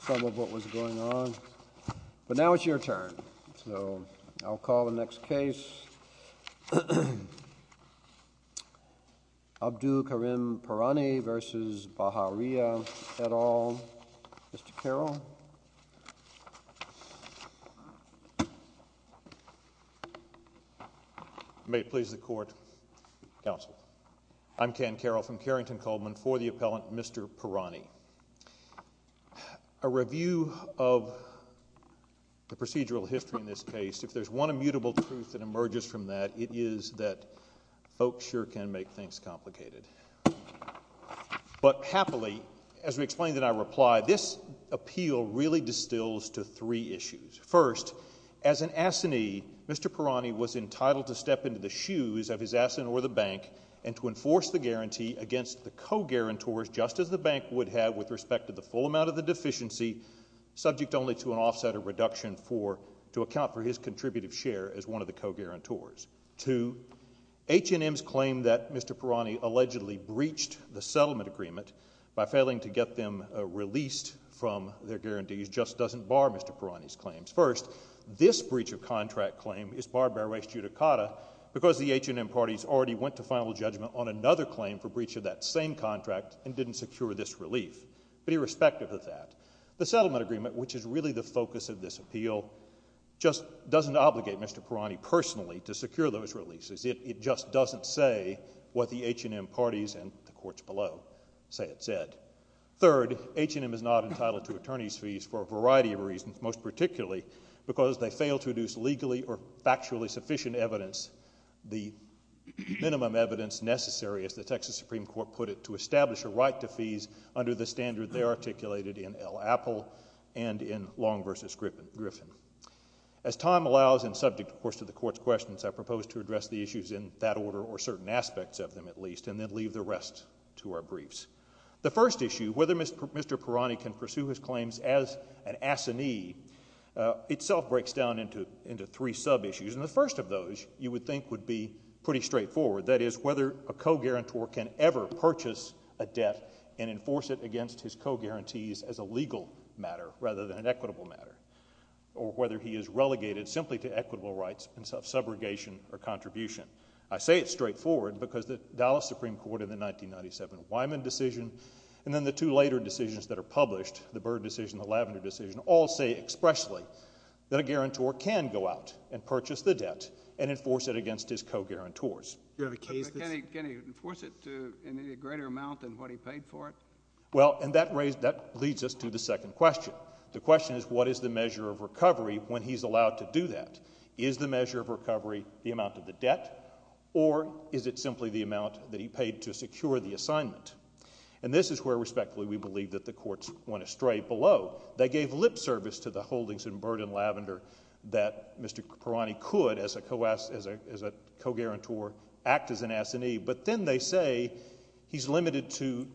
some of what was going on, but now it's your turn, so I'll call the next case. Abdu Karim Pirani v. Baharia et al. Mr. Carroll. May it please the Court, Counsel. I'm Ken Carroll from Carrington-Coleman for the appellant Mr. Pirani. A review of the procedural history in this case, if there's one immutable truth that emerges from that, it is that folks sure can make things complicated. But happily, as we explained in our reply, this appeal really distills to three issues. First, as an assignee, Mr. Pirani was entitled to step into the shoes of his assignee or the bank and to enforce the guarantee against the co-guarantors, just as the bank would have with respect to the full amount of the deficiency, subject only to an offset or reduction to account for his contributive share as one of the co-guarantors. Two, H&M's claim that Mr. Pirani allegedly breached the settlement agreement by failing to get them released from their guarantees just doesn't bar Mr. Pirani's claims. First, this breach of contract claim is barred by res judicata because the H&M parties already went to final judgment on another claim for breach of that same contract and didn't secure this relief. But irrespective of that, the settlement agreement, which is really the focus of this appeal, just doesn't obligate Mr. Pirani personally to secure those releases. It just doesn't say what the H&M parties and the courts below say it said. Third, H&M is not entitled to attorney's fees for a variety of reasons, most particularly because they fail to deduce legally or factually sufficient evidence, the minimum evidence necessary, as the Texas Supreme Court put it, to establish a right to fees under the standard they articulated in El Apple and in Long v. Griffin. As time allows and subject, of course, to the Court's questions, I propose to address the issues in that order or certain aspects of them at least and then leave the rest to our briefs. The first issue, whether Mr. Pirani can pursue his claims as an assignee, itself breaks down into three sub-issues, and the first of those you would think would be pretty straightforward, that is whether a co-guarantor can ever purchase a debt and enforce it against his co-guarantees as a legal matter rather than an equitable matter or whether he is relegated simply to equitable rights and self-subrogation or contribution. I say it's straightforward because the Dallas Supreme Court in the 1997 Wyman decision and then the two later decisions that are published, the Byrd decision and the Lavender decision, all say expressly that a guarantor can go out and purchase the debt and enforce it against his co-guarantors. Can he enforce it in a greater amount than what he paid for it? Well, and that leads us to the second question. The question is what is the measure of recovery when he's allowed to do that? Is the measure of recovery the amount of the debt or is it simply the amount that he paid to secure the assignment? And this is where respectfully we believe that the courts went astray below. They gave lip service to the holdings in Byrd and Lavender that Mr. Pirani could as a co-guarantor act as an assignee, but then they say he's limited to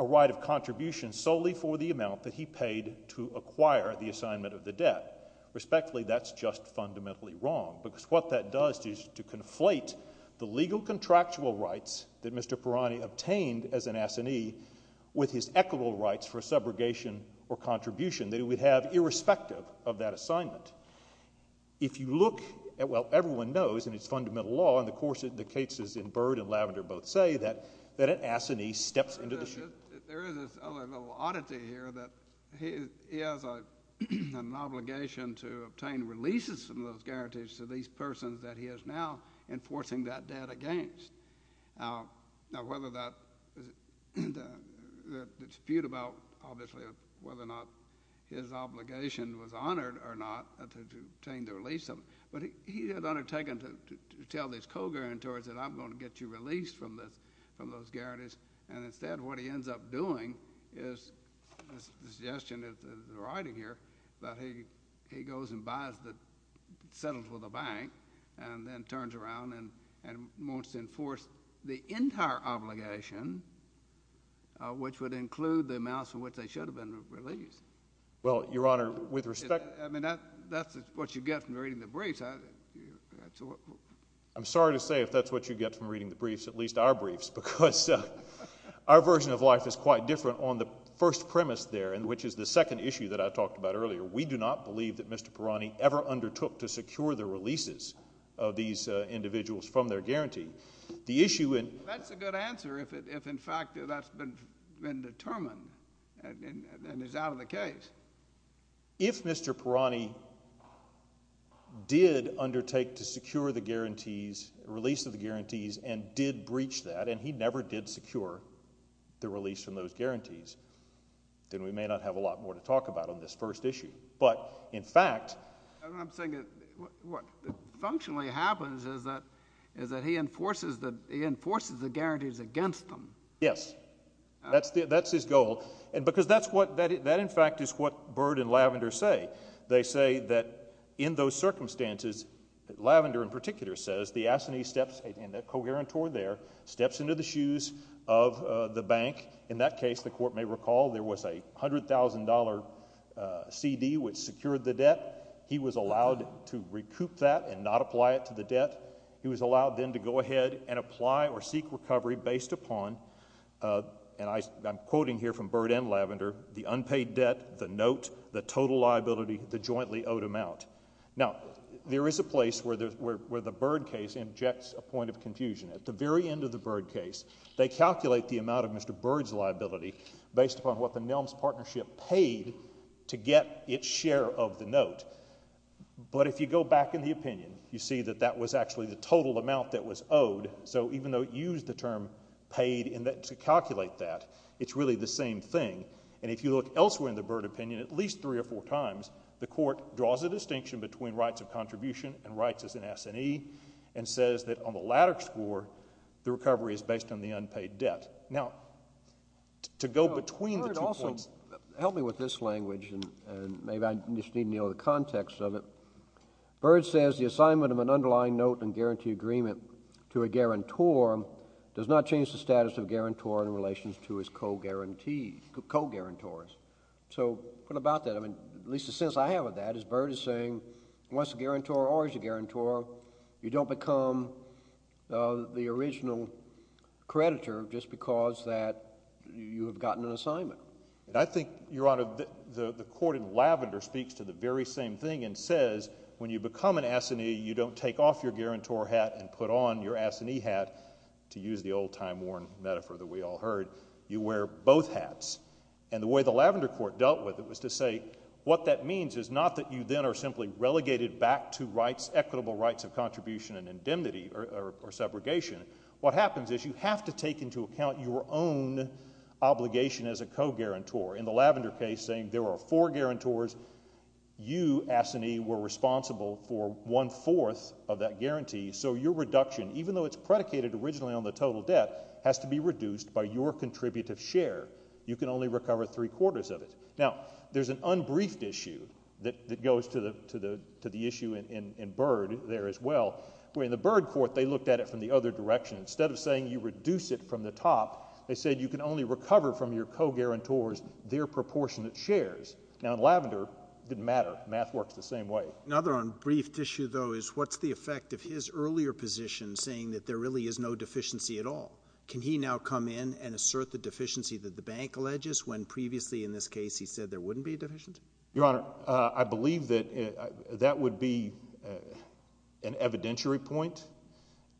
a right of contribution solely for the amount that he paid to acquire the assignment of the debt. Respectfully, that's just fundamentally wrong because what that does is to conflate the legal contractual rights that Mr. Pirani obtained as an assignee with his equitable rights for subrogation or contribution that he would have irrespective of that assignment. If you look at what everyone knows in its fundamental law, and the cases in Byrd and Lavender both say, that an assignee steps into the ship. There is this other little oddity here that he has an obligation to obtain releases from those guarantees to these persons that he is now enforcing that debt against. Now, whether that dispute about, obviously, whether or not his obligation was honored or not to obtain the release of it, but he had undertaken to tell these co-guarantors that I'm going to get you released from those guarantees, and instead what he ends up doing is the suggestion in the writing here that he goes and settles with a bank and then turns around and wants to enforce the entire obligation, which would include the amounts for which they should have been released. Well, Your Honor, with respect... I mean, that's what you get from reading the briefs. I'm sorry to say if that's what you get from reading the briefs, at least our briefs, because our version of life is quite different on the first premise there, which is the second issue that I talked about earlier. We do not believe that Mr. Pirani ever undertook to secure the releases of these individuals from their guarantee. That's a good answer if, in fact, that's been determined and is out of the case. If Mr. Pirani did undertake to secure the guarantees, release of the guarantees, and did breach that, and he never did secure the release from those guarantees, then we may not have a lot more to talk about on this first issue. But, in fact... I'm saying that what functionally happens is that he enforces the guarantees against them. Yes. That's his goal. Because that, in fact, is what Byrd and Lavender say. They say that in those circumstances, Lavender in particular says, as the assignee steps into the shoes of the bank, in that case, the court may recall, there was a $100,000 CD which secured the debt. He was allowed to recoup that and not apply it to the debt. He was allowed then to go ahead and apply or seek recovery based upon, and I'm quoting here from Byrd and Lavender, the unpaid debt, the note, the total liability, the jointly owed amount. Now, there is a place where the Byrd case injects a point of confusion. At the very end of the Byrd case, they calculate the amount of Mr Byrd's liability based upon what the Nelms Partnership paid to get its share of the note. But if you go back in the opinion, you see that that was actually the total amount that was owed, so even though it used the term paid to calculate that, it's really the same thing. And if you look elsewhere in the Byrd opinion, at least three or four times, the court draws a distinction between rights of contribution and rights as an S&E and says that on the latter score, the recovery is based on the unpaid debt. Now, to go between the two points... Help me with this language, and maybe I just need to know the context of it. Byrd says the assignment of an underlying note and guarantee agreement to a guarantor does not change the status of guarantor in relation to his co-guarantors. So what about that? At least the sense I have of that is Byrd is saying once a guarantor or is a guarantor, you don't become the original creditor just because you have gotten an assignment. I think, Your Honor, the court in Lavender speaks to the very same thing and says when you become an S&E, you don't take off your guarantor hat and put on your S&E hat, to use the old-time-worn metaphor that we all heard. You wear both hats. And the way the Lavender court dealt with it was to say what that means is not that you then are simply relegated back to rights, equitable rights of contribution and indemnity or segregation. What happens is you have to take into account your own obligation as a co-guarantor. In the Lavender case, saying there are four guarantors, you, S&E, were responsible for one-fourth of that guarantee, so your reduction, even though it's predicated originally on the total debt, has to be reduced by your contributive share. You can only recover three-quarters of it. Now, there's an unbriefed issue that goes to the issue in Byrd there as well, where in the Byrd court they looked at it from the other direction. Instead of saying you reduce it from the top, they said you can only recover from your co-guarantors their proportionate shares. Now, in Lavender, it didn't matter. Math works the same way. Another unbriefed issue, though, is what's the effect of his earlier position saying that there really is no deficiency at all? Can he now come in and assert the deficiency that the bank alleges when previously in this case he said there wouldn't be a deficiency? Your Honor, I believe that that would be an evidentiary point,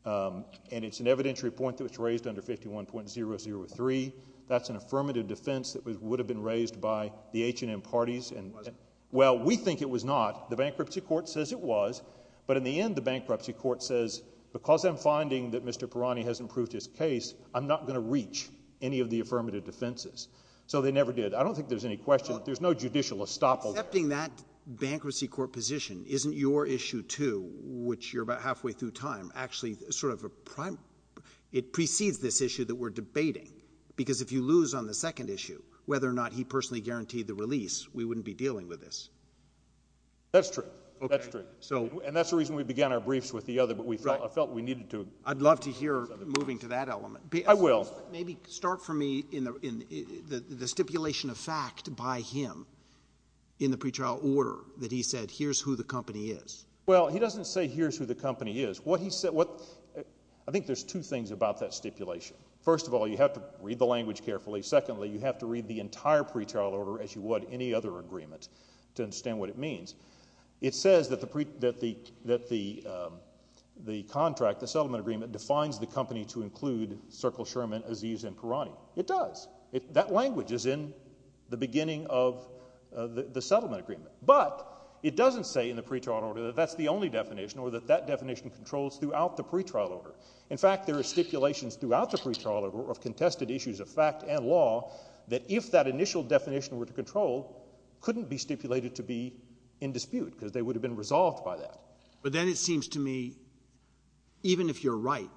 and it's an evidentiary point that was raised under 51.003. That's an affirmative defense that would have been raised by the H&M parties. Was it? Well, we think it was not. The bankruptcy court says it was, but in the end the bankruptcy court says because I'm finding that Mr. Pirani hasn't proved his case, I'm not going to reach any of the affirmative defenses. So they never did. I don't think there's any question. There's no judicial estoppel. Accepting that bankruptcy court position isn't your issue too, which you're about halfway through time. Actually, it precedes this issue that we're debating because if you lose on the second issue, whether or not he personally guaranteed the release, we wouldn't be dealing with this. That's true. And that's the reason we began our briefs with the other, but I felt we needed to. I'd love to hear moving to that element. I will. Maybe start for me in the stipulation of fact by him in the pretrial order that he said here's who the company is. Well, he doesn't say here's who the company is. I think there's two things about that stipulation. First of all, you have to read the language carefully. Secondly, you have to read the entire pretrial order, as you would any other agreement, to understand what it means. It says that the contract, the settlement agreement, defines the company to include Circle, Sherman, Aziz, and Parani. It does. That language is in the beginning of the settlement agreement. But it doesn't say in the pretrial order that that's the only definition or that that definition controls throughout the pretrial order. In fact, there are stipulations throughout the pretrial order of contested issues of fact and law that if that initial definition were to control, couldn't be stipulated to be in dispute because they would have been resolved by that. But then it seems to me even if you're right,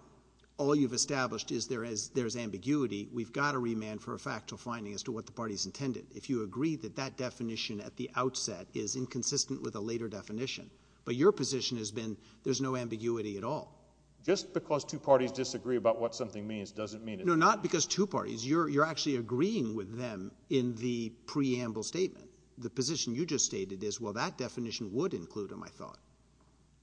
all you've established is there's ambiguity, we've got to remand for a factual finding as to what the party's intended. If you agree that that definition at the outset is inconsistent with a later definition, but your position has been there's no ambiguity at all. Just because two parties disagree about what something means doesn't mean it's true. No, not because two parties. You're actually agreeing with them in the preamble statement. The position you just stated is, well, that definition would include them, I thought.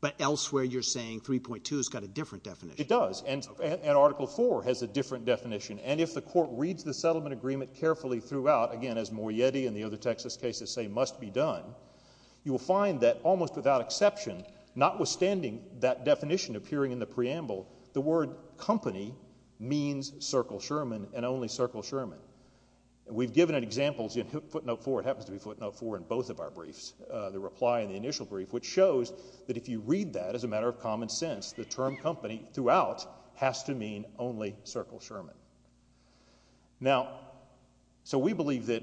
But elsewhere you're saying 3.2 has got a different definition. It does. And Article IV has a different definition. And if the court reads the settlement agreement carefully throughout, again, as Morietti and the other Texas cases say must be done, you will find that almost without exception, notwithstanding that definition appearing in the preamble, the word company means Circle Sherman and only Circle Sherman. We've given examples in footnote 4. It happens to be footnote 4 in both of our briefs, the reply in the initial brief, which shows that if you read that as a matter of common sense, the term company throughout has to mean only Circle Sherman. Now, so we believe that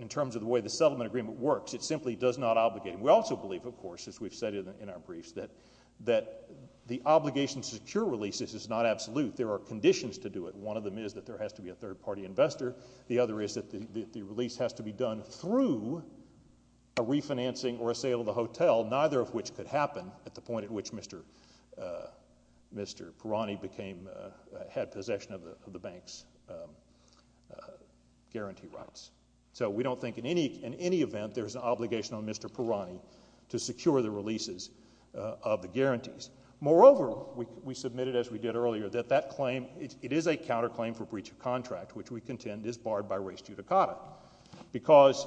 in terms of the way the settlement agreement works, it simply does not obligate. We also believe, of course, as we've said in our briefs, that the obligation to secure releases is not absolute. There are conditions to do it. One of them is that there has to be a third-party investor. The other is that the release has to be done through a refinancing or a sale of the hotel, neither of which could happen at the point at which Mr. Parani had possession of the bank's guarantee rights. So we don't think in any event there's an obligation on Mr. Parani to secure the releases of the guarantees. Moreover, we submitted, as we did earlier, that that claim, it is a counterclaim for breach of contract, which we contend is barred by res judicata, because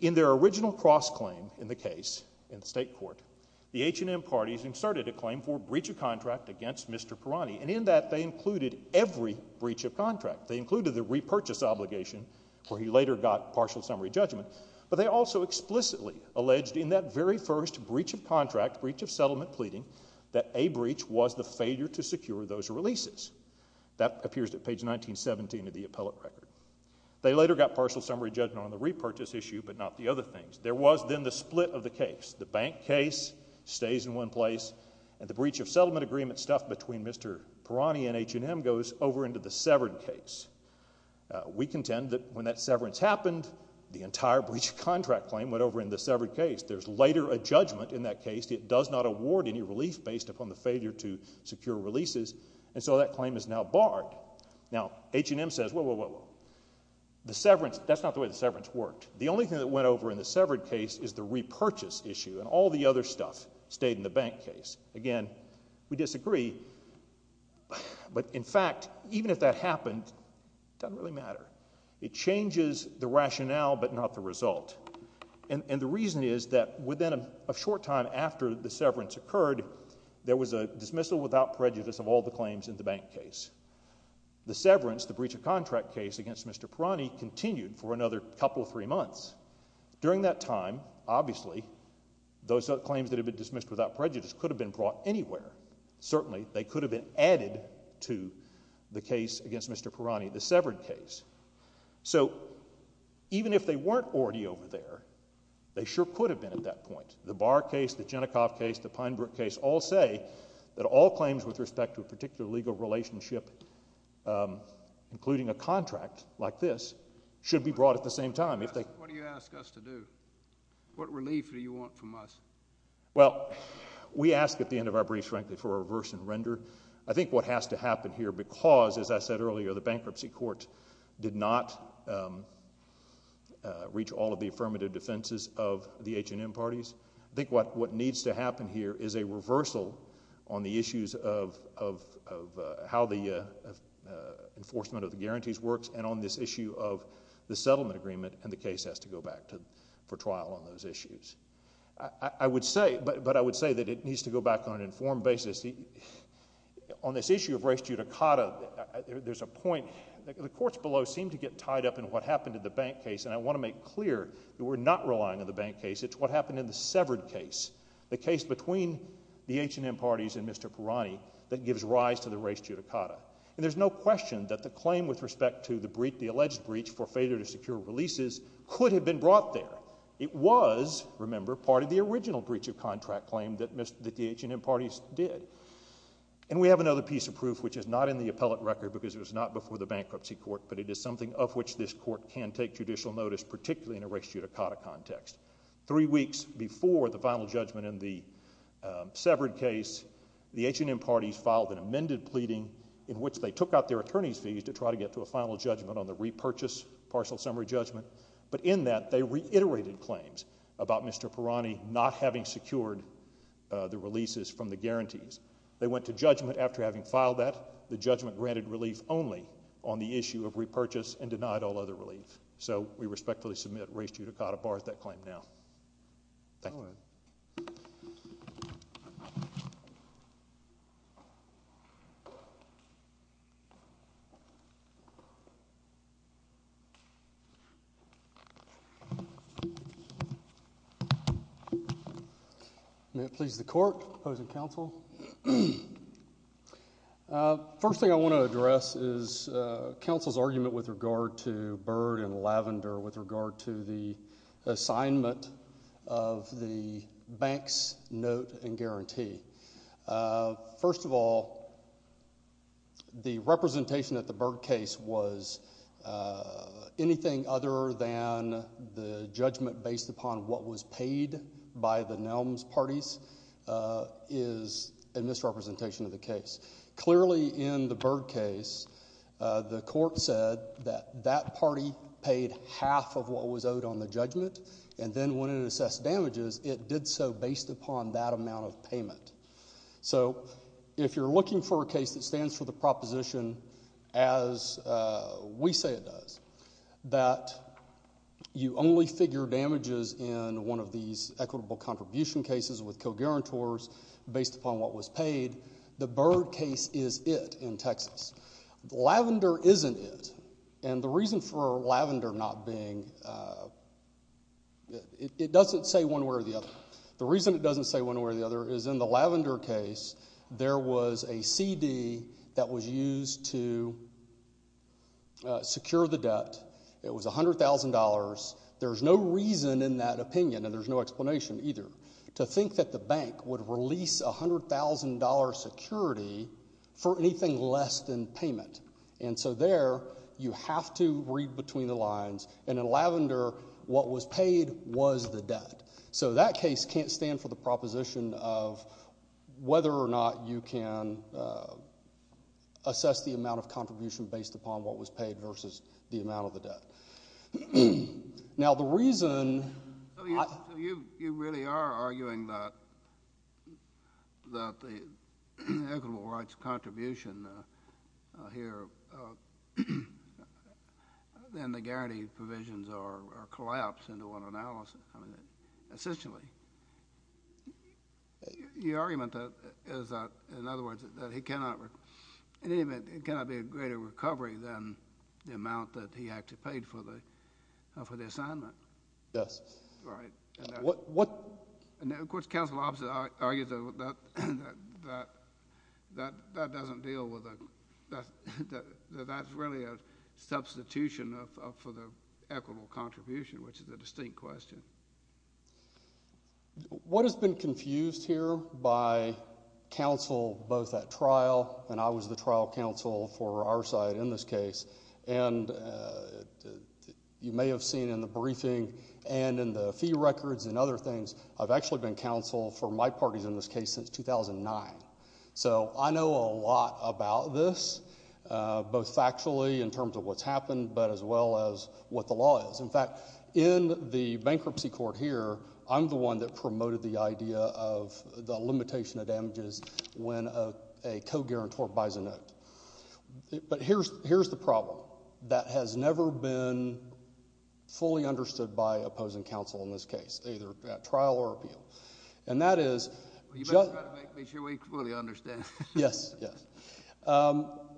in their original cross-claim in the case in the state court, the H&M parties inserted a claim for breach of contract against Mr. Parani, and in that they included every breach of contract. They included the repurchase obligation, where he later got partial summary judgment, but they also explicitly alleged in that very first breach of contract, breach of settlement pleading, that a breach was the failure to secure those releases. That appears at page 1917 of the appellate record. They later got partial summary judgment on the repurchase issue, but not the other things. There was then the split of the case. The bank case stays in one place, and the breach of settlement agreement stuff between Mr. Parani and H&M goes over into the severance case. We contend that when that severance happened, the entire breach of contract claim went over into the severed case. There's later a judgment in that case. It does not award any relief based upon the failure to secure releases, and so that claim is now barred. Now, H&M says, whoa, whoa, whoa, whoa. The severance, that's not the way the severance worked. The only thing that went over in the severed case is the repurchase issue, and all the other stuff stayed in the bank case. Again, we disagree, but in fact, even if that happened, it doesn't really matter. It changes the rationale, but not the result, and the reason is that within a short time after the severance occurred, there was a dismissal without prejudice of all the claims in the bank case. The severance, the breach of contract case against Mr. Parani, continued for another couple of three months. During that time, obviously, those claims that had been dismissed without prejudice could have been brought anywhere. Certainly, they could have been added to the case against Mr. Parani, the severed case. So even if they weren't already over there, they sure could have been at that point. The Barr case, the Genicoff case, the Pinebrook case, all say that all claims with respect to a particular legal relationship, including a contract like this, should be brought at the same time. What do you ask us to do? What relief do you want from us? Well, we ask at the end of our briefs, frankly, for a reverse and render. I think what has to happen here because, as I said earlier, the bankruptcy court did not reach all of the affirmative defenses of the H&M parties. I think what needs to happen here is a reversal on the issues of how the enforcement of the guarantees works and on this issue of the settlement agreement, and the case has to go back for trial on those issues. But I would say that it needs to go back on an informed basis. On this issue of res judicata, there's a point. The courts below seem to get tied up in what happened in the bank case, and I want to make clear that we're not relying on the bank case. It's what happened in the severed case, the case between the H&M parties and Mr. Parani, that gives rise to the res judicata. And there's no question that the claim with respect to the alleged breach for failure to secure releases could have been brought there. It was, remember, part of the original breach of contract claim that the H&M parties did. And we have another piece of proof which is not in the appellate record because it was not before the bankruptcy court, but it is something of which this court can take judicial notice, particularly in a res judicata context. Three weeks before the final judgment in the severed case, the H&M parties filed an amended pleading in which they took out their attorney's fees to try to get to a final judgment on the repurchase partial summary judgment, but in that they reiterated claims about Mr. Parani not having secured the releases from the guarantees. They went to judgment after having filed that. The judgment granted relief only on the issue of repurchase and denied all other relief. So we respectfully submit res judicata bars that claim now. Thank you. Go ahead. May it please the court, opposing counsel. First thing I want to address is counsel's argument with regard to Byrd and Lavender with regard to the assignment of the bank's note and guarantee. First of all, the representation at the Byrd case was anything other than the judgment based upon what was paid by the Nelms parties is a misrepresentation of the case. Clearly in the Byrd case, the court said that that party paid half of what was owed on the judgment and then when it assessed damages, it did so based upon that amount of payment. So if you're looking for a case that stands for the proposition as we say it does, that you only figure damages in one of these equitable contribution cases with co-guarantors based upon what was paid, the Byrd case is it in Texas. Lavender isn't it. And the reason for Lavender not being, it doesn't say one way or the other. The reason it doesn't say one way or the other is in the Lavender case, there was a CD that was used to secure the debt. It was $100,000. There's no reason in that opinion, and there's no explanation either, to think that the bank would release $100,000 security for anything less than payment. And so there you have to read between the lines. And in Lavender, what was paid was the debt. So that case can't stand for the proposition of whether or not you can assess the amount of contribution based upon what was paid versus the amount of the debt. Now the reason I— So you really are arguing that the equitable rights contribution here, then the guarantee provisions are collapsed into one analysis, essentially. Your argument is that, in other words, that he cannot, in any event, there cannot be a greater recovery than the amount that he actually paid for the assignment. Yes. Right. What— And of course, counsel also argues that that doesn't deal with, that that's really a substitution for the equitable contribution, which is a distinct question. What has been confused here by counsel both at trial, and I was the trial counsel for our side in this case, and you may have seen in the briefing and in the fee records and other things, I've actually been counsel for my parties in this case since 2009. So I know a lot about this, both factually in terms of what's happened, but as well as what the law is. In fact, in the bankruptcy court here, I'm the one that promoted the idea of the limitation of damages when a co-guarantor buys a note. But here's the problem. That has never been fully understood by opposing counsel in this case, either at trial or appeal. And that is— You better try to make sure we fully understand. Yes, yes.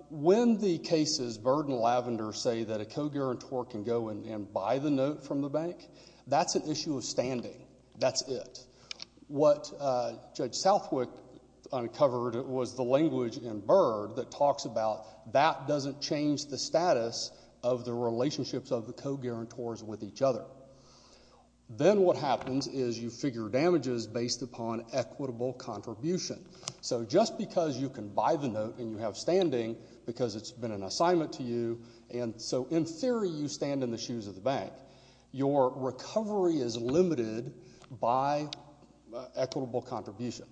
When the cases Byrd and Lavender say that a co-guarantor can go and buy the note from the bank, that's an issue of standing. That's it. What Judge Southwick uncovered was the language in Byrd that talks about that doesn't change the status of the relationships of the co-guarantors with each other. Then what happens is you figure damages based upon equitable contribution. So just because you can buy the note and you have standing because it's been an assignment to you, and so in theory you stand in the shoes of the bank, your recovery is limited by equitable contribution.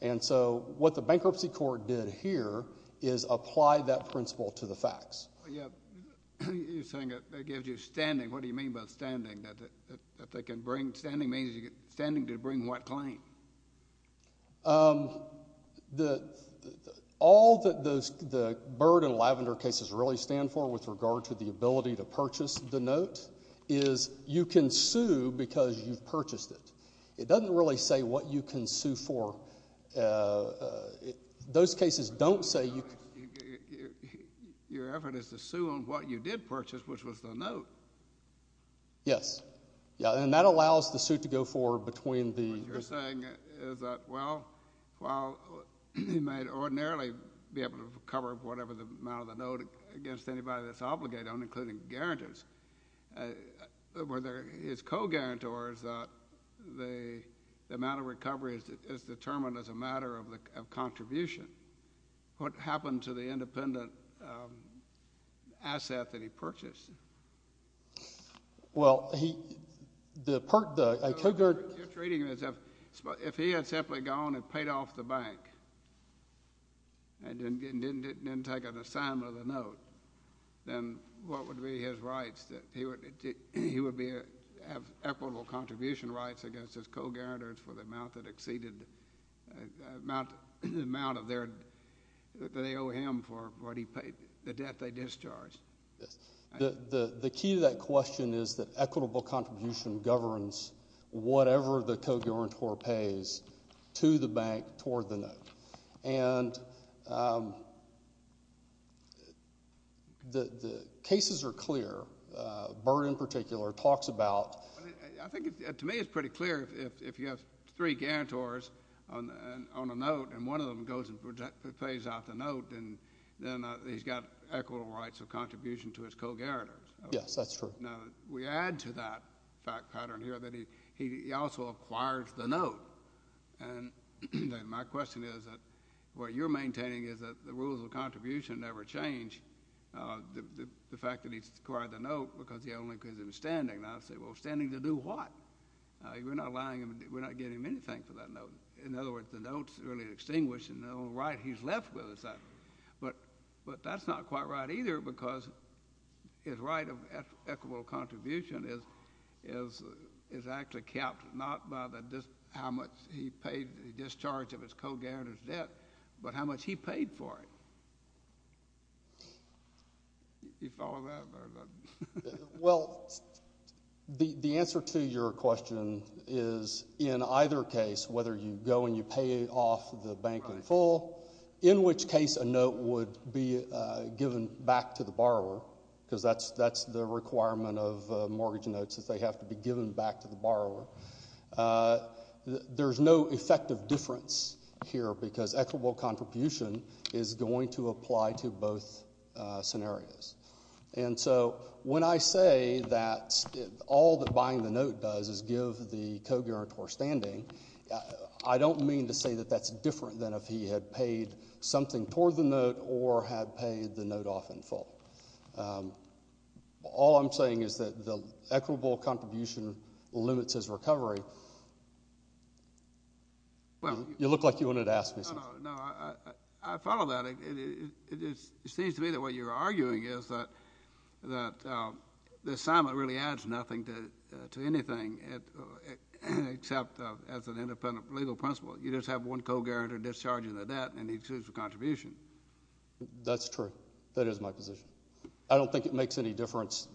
And so what the bankruptcy court did here is apply that principle to the facts. You're saying it gives you standing. What do you mean by standing? Standing means you get standing to bring what claim? All that the Byrd and Lavender cases really stand for with regard to the ability to purchase the note is you can sue because you've purchased it. It doesn't really say what you can sue for. Those cases don't say you can— Your effort is to sue on what you did purchase, which was the note. Yes. And that allows the suit to go forward between the— What you're saying is that, well, while he might ordinarily be able to recover whatever the amount of the note against anybody that's obligated, including guarantors, whether his co-guarantor is that the amount of recovery is determined as a matter of contribution. What happened to the independent asset that he purchased? Well, he— You're treating him as if he had simply gone and paid off the bank and didn't take an assignment of the note, then what would be his rights? He would have equitable contribution rights against his co-guarantors for the amount that exceeded the amount of their—that they owe him for what he paid, the debt they discharged. Yes. The key to that question is that equitable contribution governs whatever the co-guarantor pays to the bank toward the note. And the cases are clear. Byrd, in particular, talks about— Well, I think, to me, it's pretty clear if you have three guarantors on a note and one of them goes and pays off the note, then he's got equitable rights of contribution to his co-guarantors. Yes, that's true. Now, we add to that fact pattern here that he also acquires the note. And my question is that what you're maintaining is that the rules of contribution never change, the fact that he's acquired the note because he only gives him standing. Now, I say, well, standing to do what? We're not allowing him—we're not giving him anything for that note. In other words, the note's really extinguished, and the only right he's left with is that. But that's not quite right either because his right of equitable contribution is actually capped not by how much he paid, the discharge of his co-guarantor's debt, but how much he paid for it. Do you follow that, Byrd? Well, the answer to your question is in either case, whether you go and you pay off the bank in full, in which case a note would be given back to the borrower because that's the requirement of mortgage notes is they have to be given back to the borrower. There's no effective difference here because equitable contribution is going to apply to both scenarios. And so when I say that all that buying the note does is give the co-guarantor standing, I don't mean to say that that's different than if he had paid something toward the note or had paid the note off in full. All I'm saying is that the equitable contribution limits his recovery. You look like you wanted to ask me something. No, I follow that. It seems to me that what you're arguing is that the assignment really adds nothing to anything except as an independent legal principle. You just have one co-guarantor discharging the debt, and it's his contribution. That's true. That is my position. I don't think it makes any difference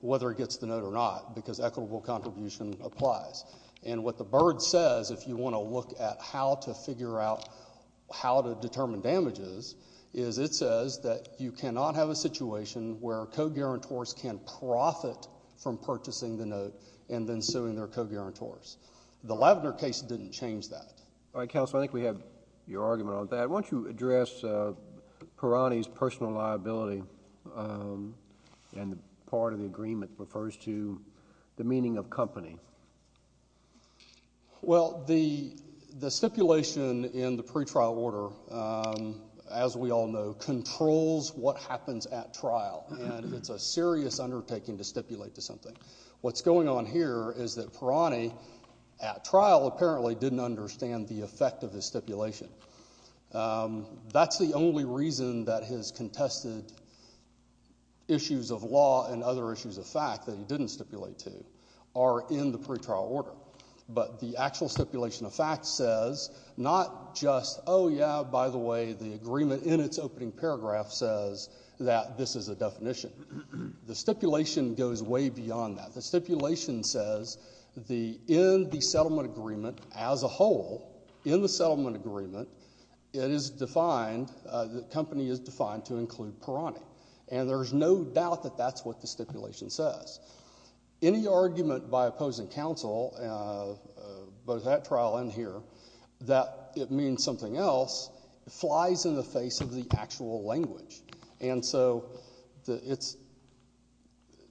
whether he gets the note or not because equitable contribution applies. And what the BIRD says, if you want to look at how to figure out how to determine damages, is it says that you cannot have a situation where co-guarantors can profit from purchasing the note and then suing their co-guarantors. The Lavender case didn't change that. All right, Counselor, I think we have your argument on that. Judge, I want you to address Perani's personal liability, and part of the agreement refers to the meaning of company. Well, the stipulation in the pretrial order, as we all know, controls what happens at trial, and it's a serious undertaking to stipulate to something. What's going on here is that Perani at trial apparently didn't understand the effect of his stipulation. That's the only reason that his contested issues of law and other issues of fact that he didn't stipulate to are in the pretrial order. But the actual stipulation of fact says not just, oh, yeah, by the way, the agreement in its opening paragraph says that this is a definition. The stipulation goes way beyond that. The stipulation says in the settlement agreement as a whole, in the settlement agreement, it is defined, the company is defined to include Perani, and there's no doubt that that's what the stipulation says. Any argument by opposing counsel, both at trial and here, that it means something else flies in the face of the actual language, and so it's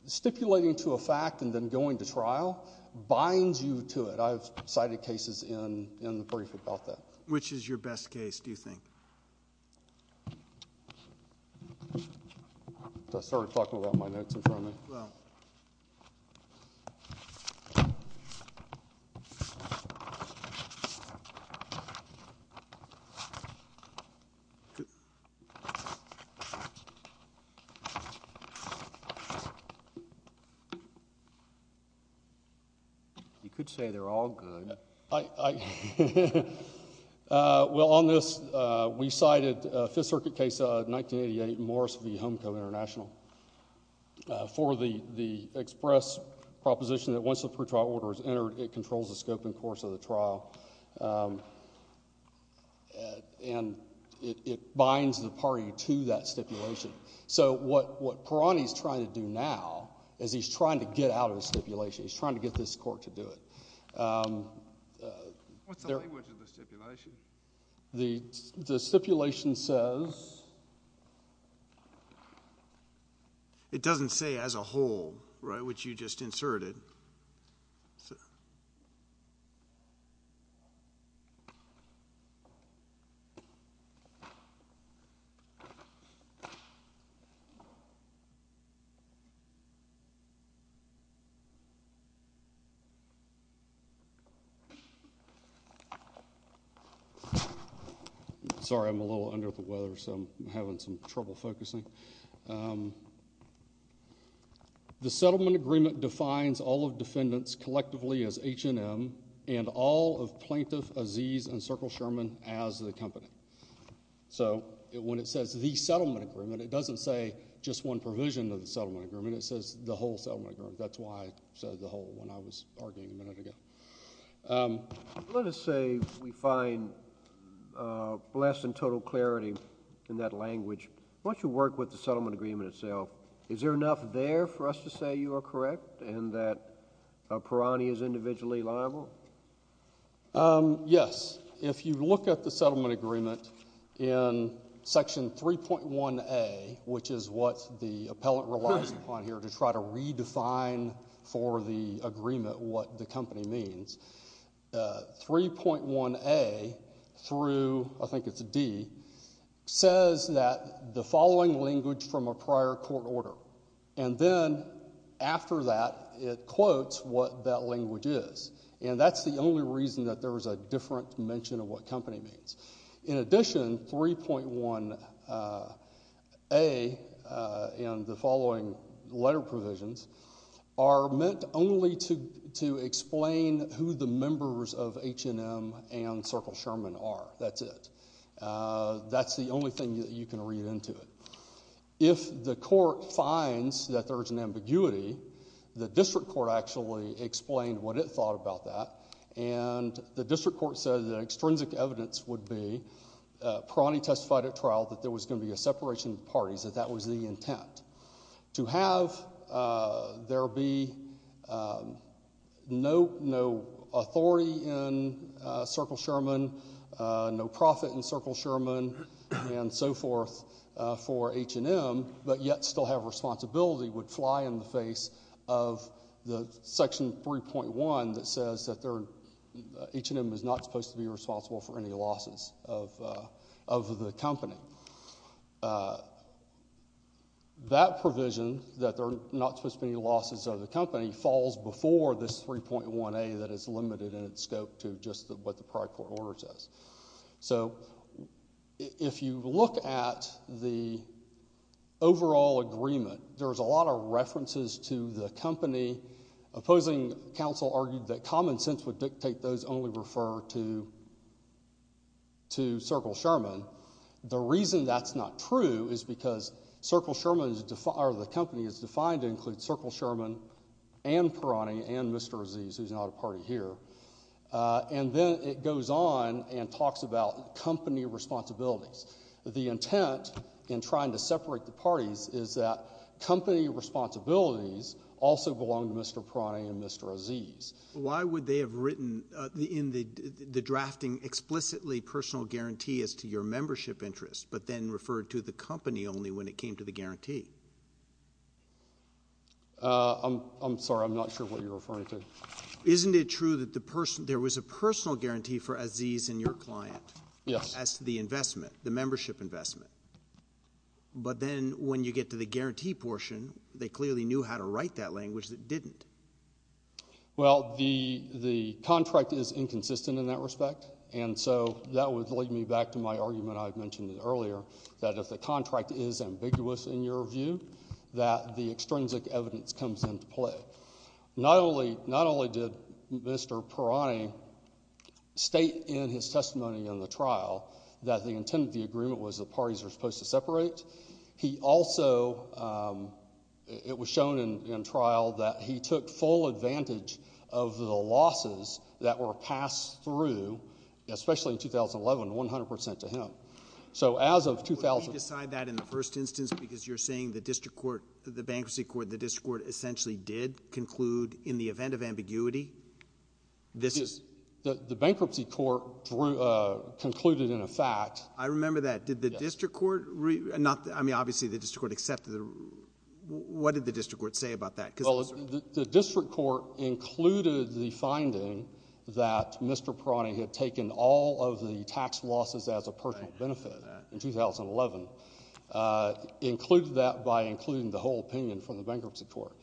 stipulating to a fact and then going to trial binds you to it. I've cited cases in the brief about that. Which is your best case, do you think? I started talking about my notes in front of me. You could say they're all good. Well, on this, we cited a Fifth Circuit case, 1988, Morris v. Homeco International, for the express proposition that once the pretrial order is entered, it controls the scope and course of the trial, and it binds the party to that stipulation. So what Perani is trying to do now is he's trying to get out of the stipulation. He's trying to get this court to do it. What's the language of the stipulation? The stipulation says— It doesn't say as a whole, which you just inserted. Sorry, I'm a little under the weather, so I'm having some trouble focusing. The settlement agreement defines all of defendants collectively as H&M and all of Plaintiff Aziz and Circle Sherman as the company. So when it says the settlement agreement, it doesn't say just one provision of the settlement agreement. It says the whole settlement agreement. That's why I said the whole when I was arguing a minute ago. Let us say we find less than total clarity in that language. Once you work with the settlement agreement itself, is there enough there for us to say you are correct and that Perani is individually liable? Yes. If you look at the settlement agreement in Section 3.1a, which is what the appellant relies upon here to try to redefine for the agreement what the company means, 3.1a through—I think it's a D—says that the following language from a prior court order, and then after that it quotes what that language is, and that's the only reason that there is a different mention of what company means. In addition, 3.1a and the following letter provisions are meant only to explain who the members of H&M and Circle Sherman are. That's it. That's the only thing that you can read into it. If the court finds that there is an ambiguity, the district court actually explained what it thought about that, and the district court said that extrinsic evidence would be, Perani testified at trial that there was going to be a separation of parties, that that was the intent. To have there be no authority in Circle Sherman, no profit in Circle Sherman, and so forth for H&M, but yet still have responsibility would fly in the face of the Section 3.1 that says that H&M is not supposed to be responsible for any losses of the company. That provision, that there are not supposed to be any losses of the company, falls before this 3.1a that is limited in its scope to just what the prior court order says. So if you look at the overall agreement, there's a lot of references to the company. Opposing counsel argued that common sense would dictate those only refer to Circle Sherman. The reason that's not true is because Circle Sherman, or the company, is defined to include Circle Sherman and Perani and Mr. Aziz, who's not a party here, and then it goes on and talks about company responsibilities. The intent in trying to separate the parties is that company responsibilities also belong to Mr. Perani and Mr. Aziz. Why would they have written in the drafting explicitly personal guarantee as to your membership interest, but then referred to the company only when it came to the guarantee? I'm sorry. I'm not sure what you're referring to. Isn't it true that there was a personal guarantee for Aziz and your client? Yes. As to the investment, the membership investment. But then when you get to the guarantee portion, they clearly knew how to write that language that didn't. Well, the contract is inconsistent in that respect, and so that would lead me back to my argument I mentioned earlier, that if the contract is ambiguous in your view, that the extrinsic evidence comes into play. Not only did Mr. Perani state in his testimony in the trial that the intent of the agreement was the parties were supposed to separate, it was shown in trial that he took full advantage of the losses that were passed through, especially in 2011, 100 percent to him. Would you decide that in the first instance because you're saying the district court, the bankruptcy court, the district court essentially did conclude in the event of ambiguity? The bankruptcy court concluded in effect. I remember that. Did the district court? I mean, obviously, the district court accepted. What did the district court say about that? Well, the district court included the finding that Mr. Perani had taken all of the tax losses as a personal benefit in 2011. It included that by including the whole opinion from the bankruptcy court.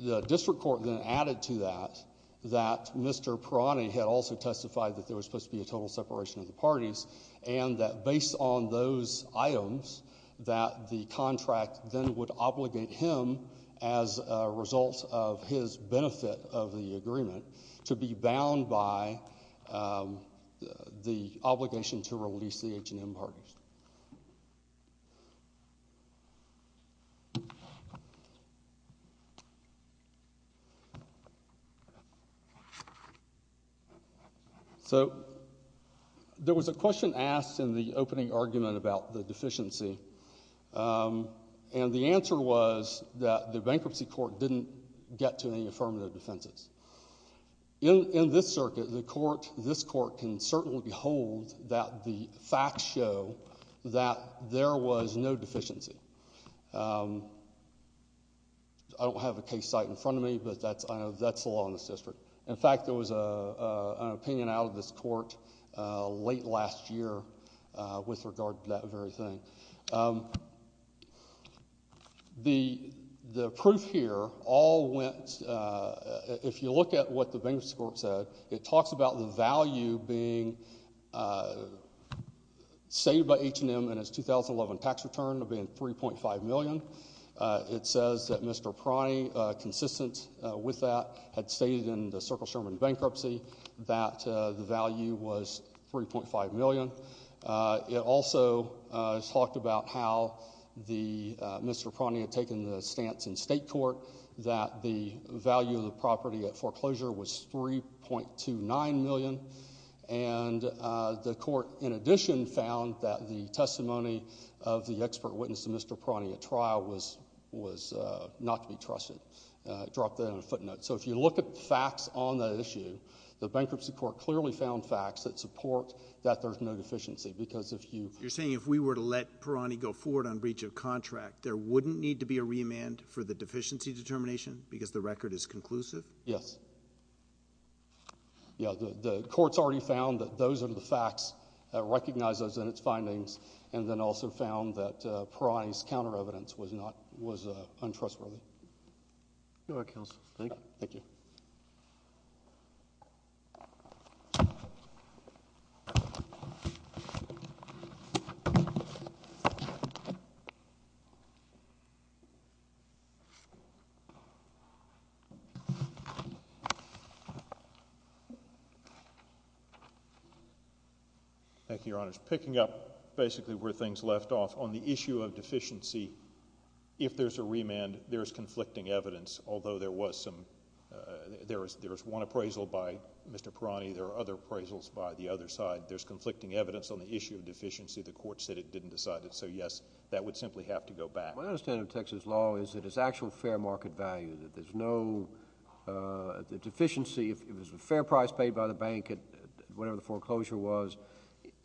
The district court then added to that that Mr. Perani had also testified that there was supposed to be a total separation of the parties and that based on those items that the contract then would obligate him as a result of his benefit of the agreement to be bound by the obligation to release the H&M parties. So there was a question asked in the opening argument about the deficiency, and the answer was that the bankruptcy court didn't get to any affirmative defenses. In this circuit, this court can certainly behold that the facts show that there was no deficiency. I don't have a case site in front of me, but that's the law in this district. In fact, there was an opinion out of this court late last year with regard to that very thing. The proof here all went, if you look at what the bankruptcy court said, it talks about the value being stated by H&M in its 2011 tax return of being $3.5 million. It says that Mr. Perani, consistent with that, had stated in the Circle Sherman bankruptcy that the value was $3.5 million. It also talked about how Mr. Perani had taken the stance in state court that the value of the property at foreclosure was $3.29 million, and the court, in addition, found that the testimony of the expert witness to Mr. Perani at trial was not to be trusted. I dropped that on a footnote. So if you look at the facts on that issue, the bankruptcy court clearly found facts that support that there's no deficiency, because if you— You're saying if we were to let Perani go forward on breach of contract, there wouldn't need to be a remand for the deficiency determination because the record is conclusive? Yes. Yeah, the court's already found that those are the facts that recognize those in its findings, and then also found that Perani's counter-evidence was not—was untrustworthy. Your work, counsel. Thank you. Thank you. Thank you, Your Honors. Picking up basically where things left off, on the issue of deficiency, if there's a remand, there's conflicting evidence, although there was some—there was one appraisal by Mr. Perani. There are other appraisals by the other side. There's conflicting evidence on the issue of deficiency. The court said it didn't decide it. So, yes, that would simply have to go back. My understanding of Texas law is that it's actual fair market value, that there's no—the deficiency, if it was a fair price paid by the bank at whatever the foreclosure was,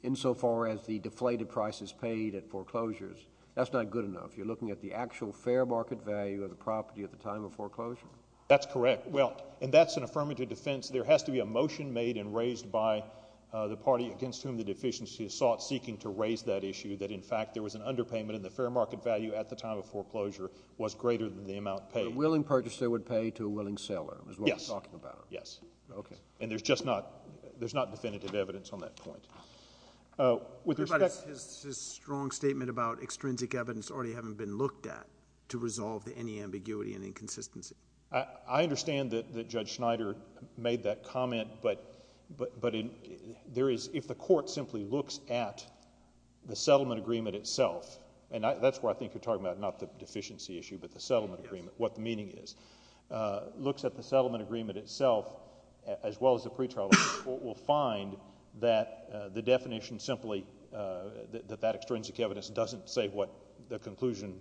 insofar as the deflated price is paid at foreclosures, that's not good enough. You're looking at the actual fair market value of the property at the time of foreclosure. That's correct. Well, and that's an affirmative defense. There has to be a motion made and raised by the party against whom the deficiency is sought seeking to raise that issue, that in fact there was an underpayment and the fair market value at the time of foreclosure was greater than the amount paid. A willing purchaser would pay to a willing seller is what we're talking about. Yes, yes. Okay. And there's just not—there's not definitive evidence on that point. With respect— But his strong statement about extrinsic evidence already having been looked at to resolve any ambiguity and inconsistency. I understand that Judge Schneider made that comment, but there is—if the court simply looks at the settlement agreement itself, and that's what I think you're talking about, not the deficiency issue, but the settlement agreement, what the meaning is, looks at the settlement agreement itself as well as the pretrial agreement, the court will find that the definition simply—that that extrinsic evidence doesn't say what the conclusion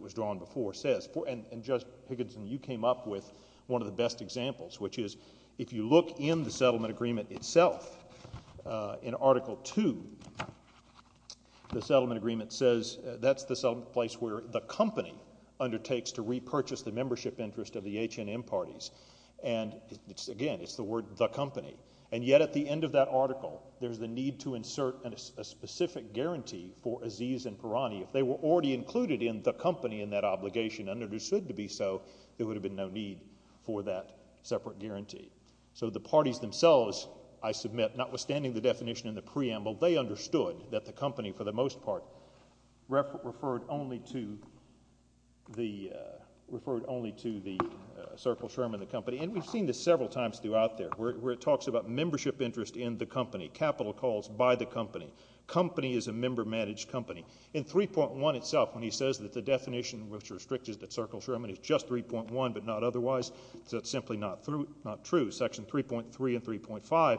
was drawn before says. And Judge Higginson, you came up with one of the best examples, which is if you look in the settlement agreement itself, in Article II, the settlement agreement says that's the place where the company undertakes to repurchase the membership interest of the H&M parties. And again, it's the word the company. And yet at the end of that article, there's the need to insert a specific guarantee for Aziz and Parani. If they were already included in the company in that obligation and understood to be so, there would have been no need for that separate guarantee. So the parties themselves, I submit, notwithstanding the definition in the preamble, they understood that the company, for the most part, referred only to the Circle Sherman, the company. And we've seen this several times throughout there, where it talks about membership interest in the company, capital calls by the company. Company is a member-managed company. In 3.1 itself, when he says that the definition which restricts it to Circle Sherman is just 3.1 but not otherwise, that's simply not true. Section 3.3 and 3.5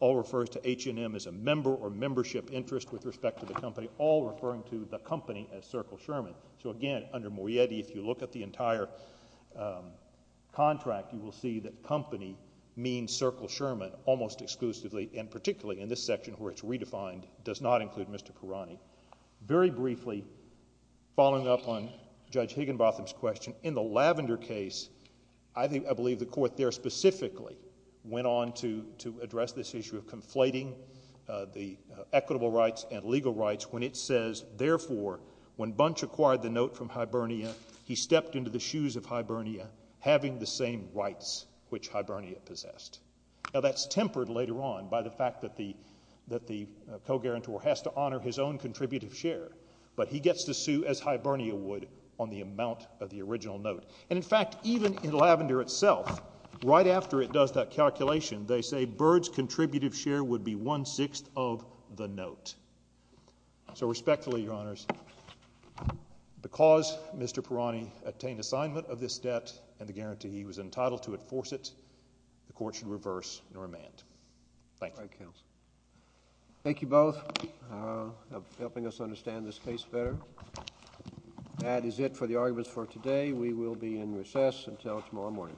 all refer to H&M as a member or membership interest with respect to the company, all referring to the company as Circle Sherman. So again, under Morietti, if you look at the entire contract, you will see that company means Circle Sherman almost exclusively, and particularly in this section where it's redefined, does not include Mr. Parani. Very briefly, following up on Judge Higginbotham's question, in the Lavender case, I believe the court there specifically went on to address this issue of conflating the equitable rights and legal rights when it says, therefore, when Bunch acquired the note from Hibernia, he stepped into the shoes of Hibernia, having the same rights which Hibernia possessed. Now that's tempered later on by the fact that the co-guarantor has to honor his own contributive share, but he gets to sue as Hibernia would on the amount of the original note. And in fact, even in Lavender itself, right after it does that calculation, they say Byrd's contributive share would be one-sixth of the note. So respectfully, Your Honors, because Mr. Parani obtained assignment of this debt and the guarantee he was entitled to enforce it, the court should reverse and remand. Thank you. Thank you both for helping us understand this case better. That is it for the arguments for today. We will be in recess until tomorrow morning.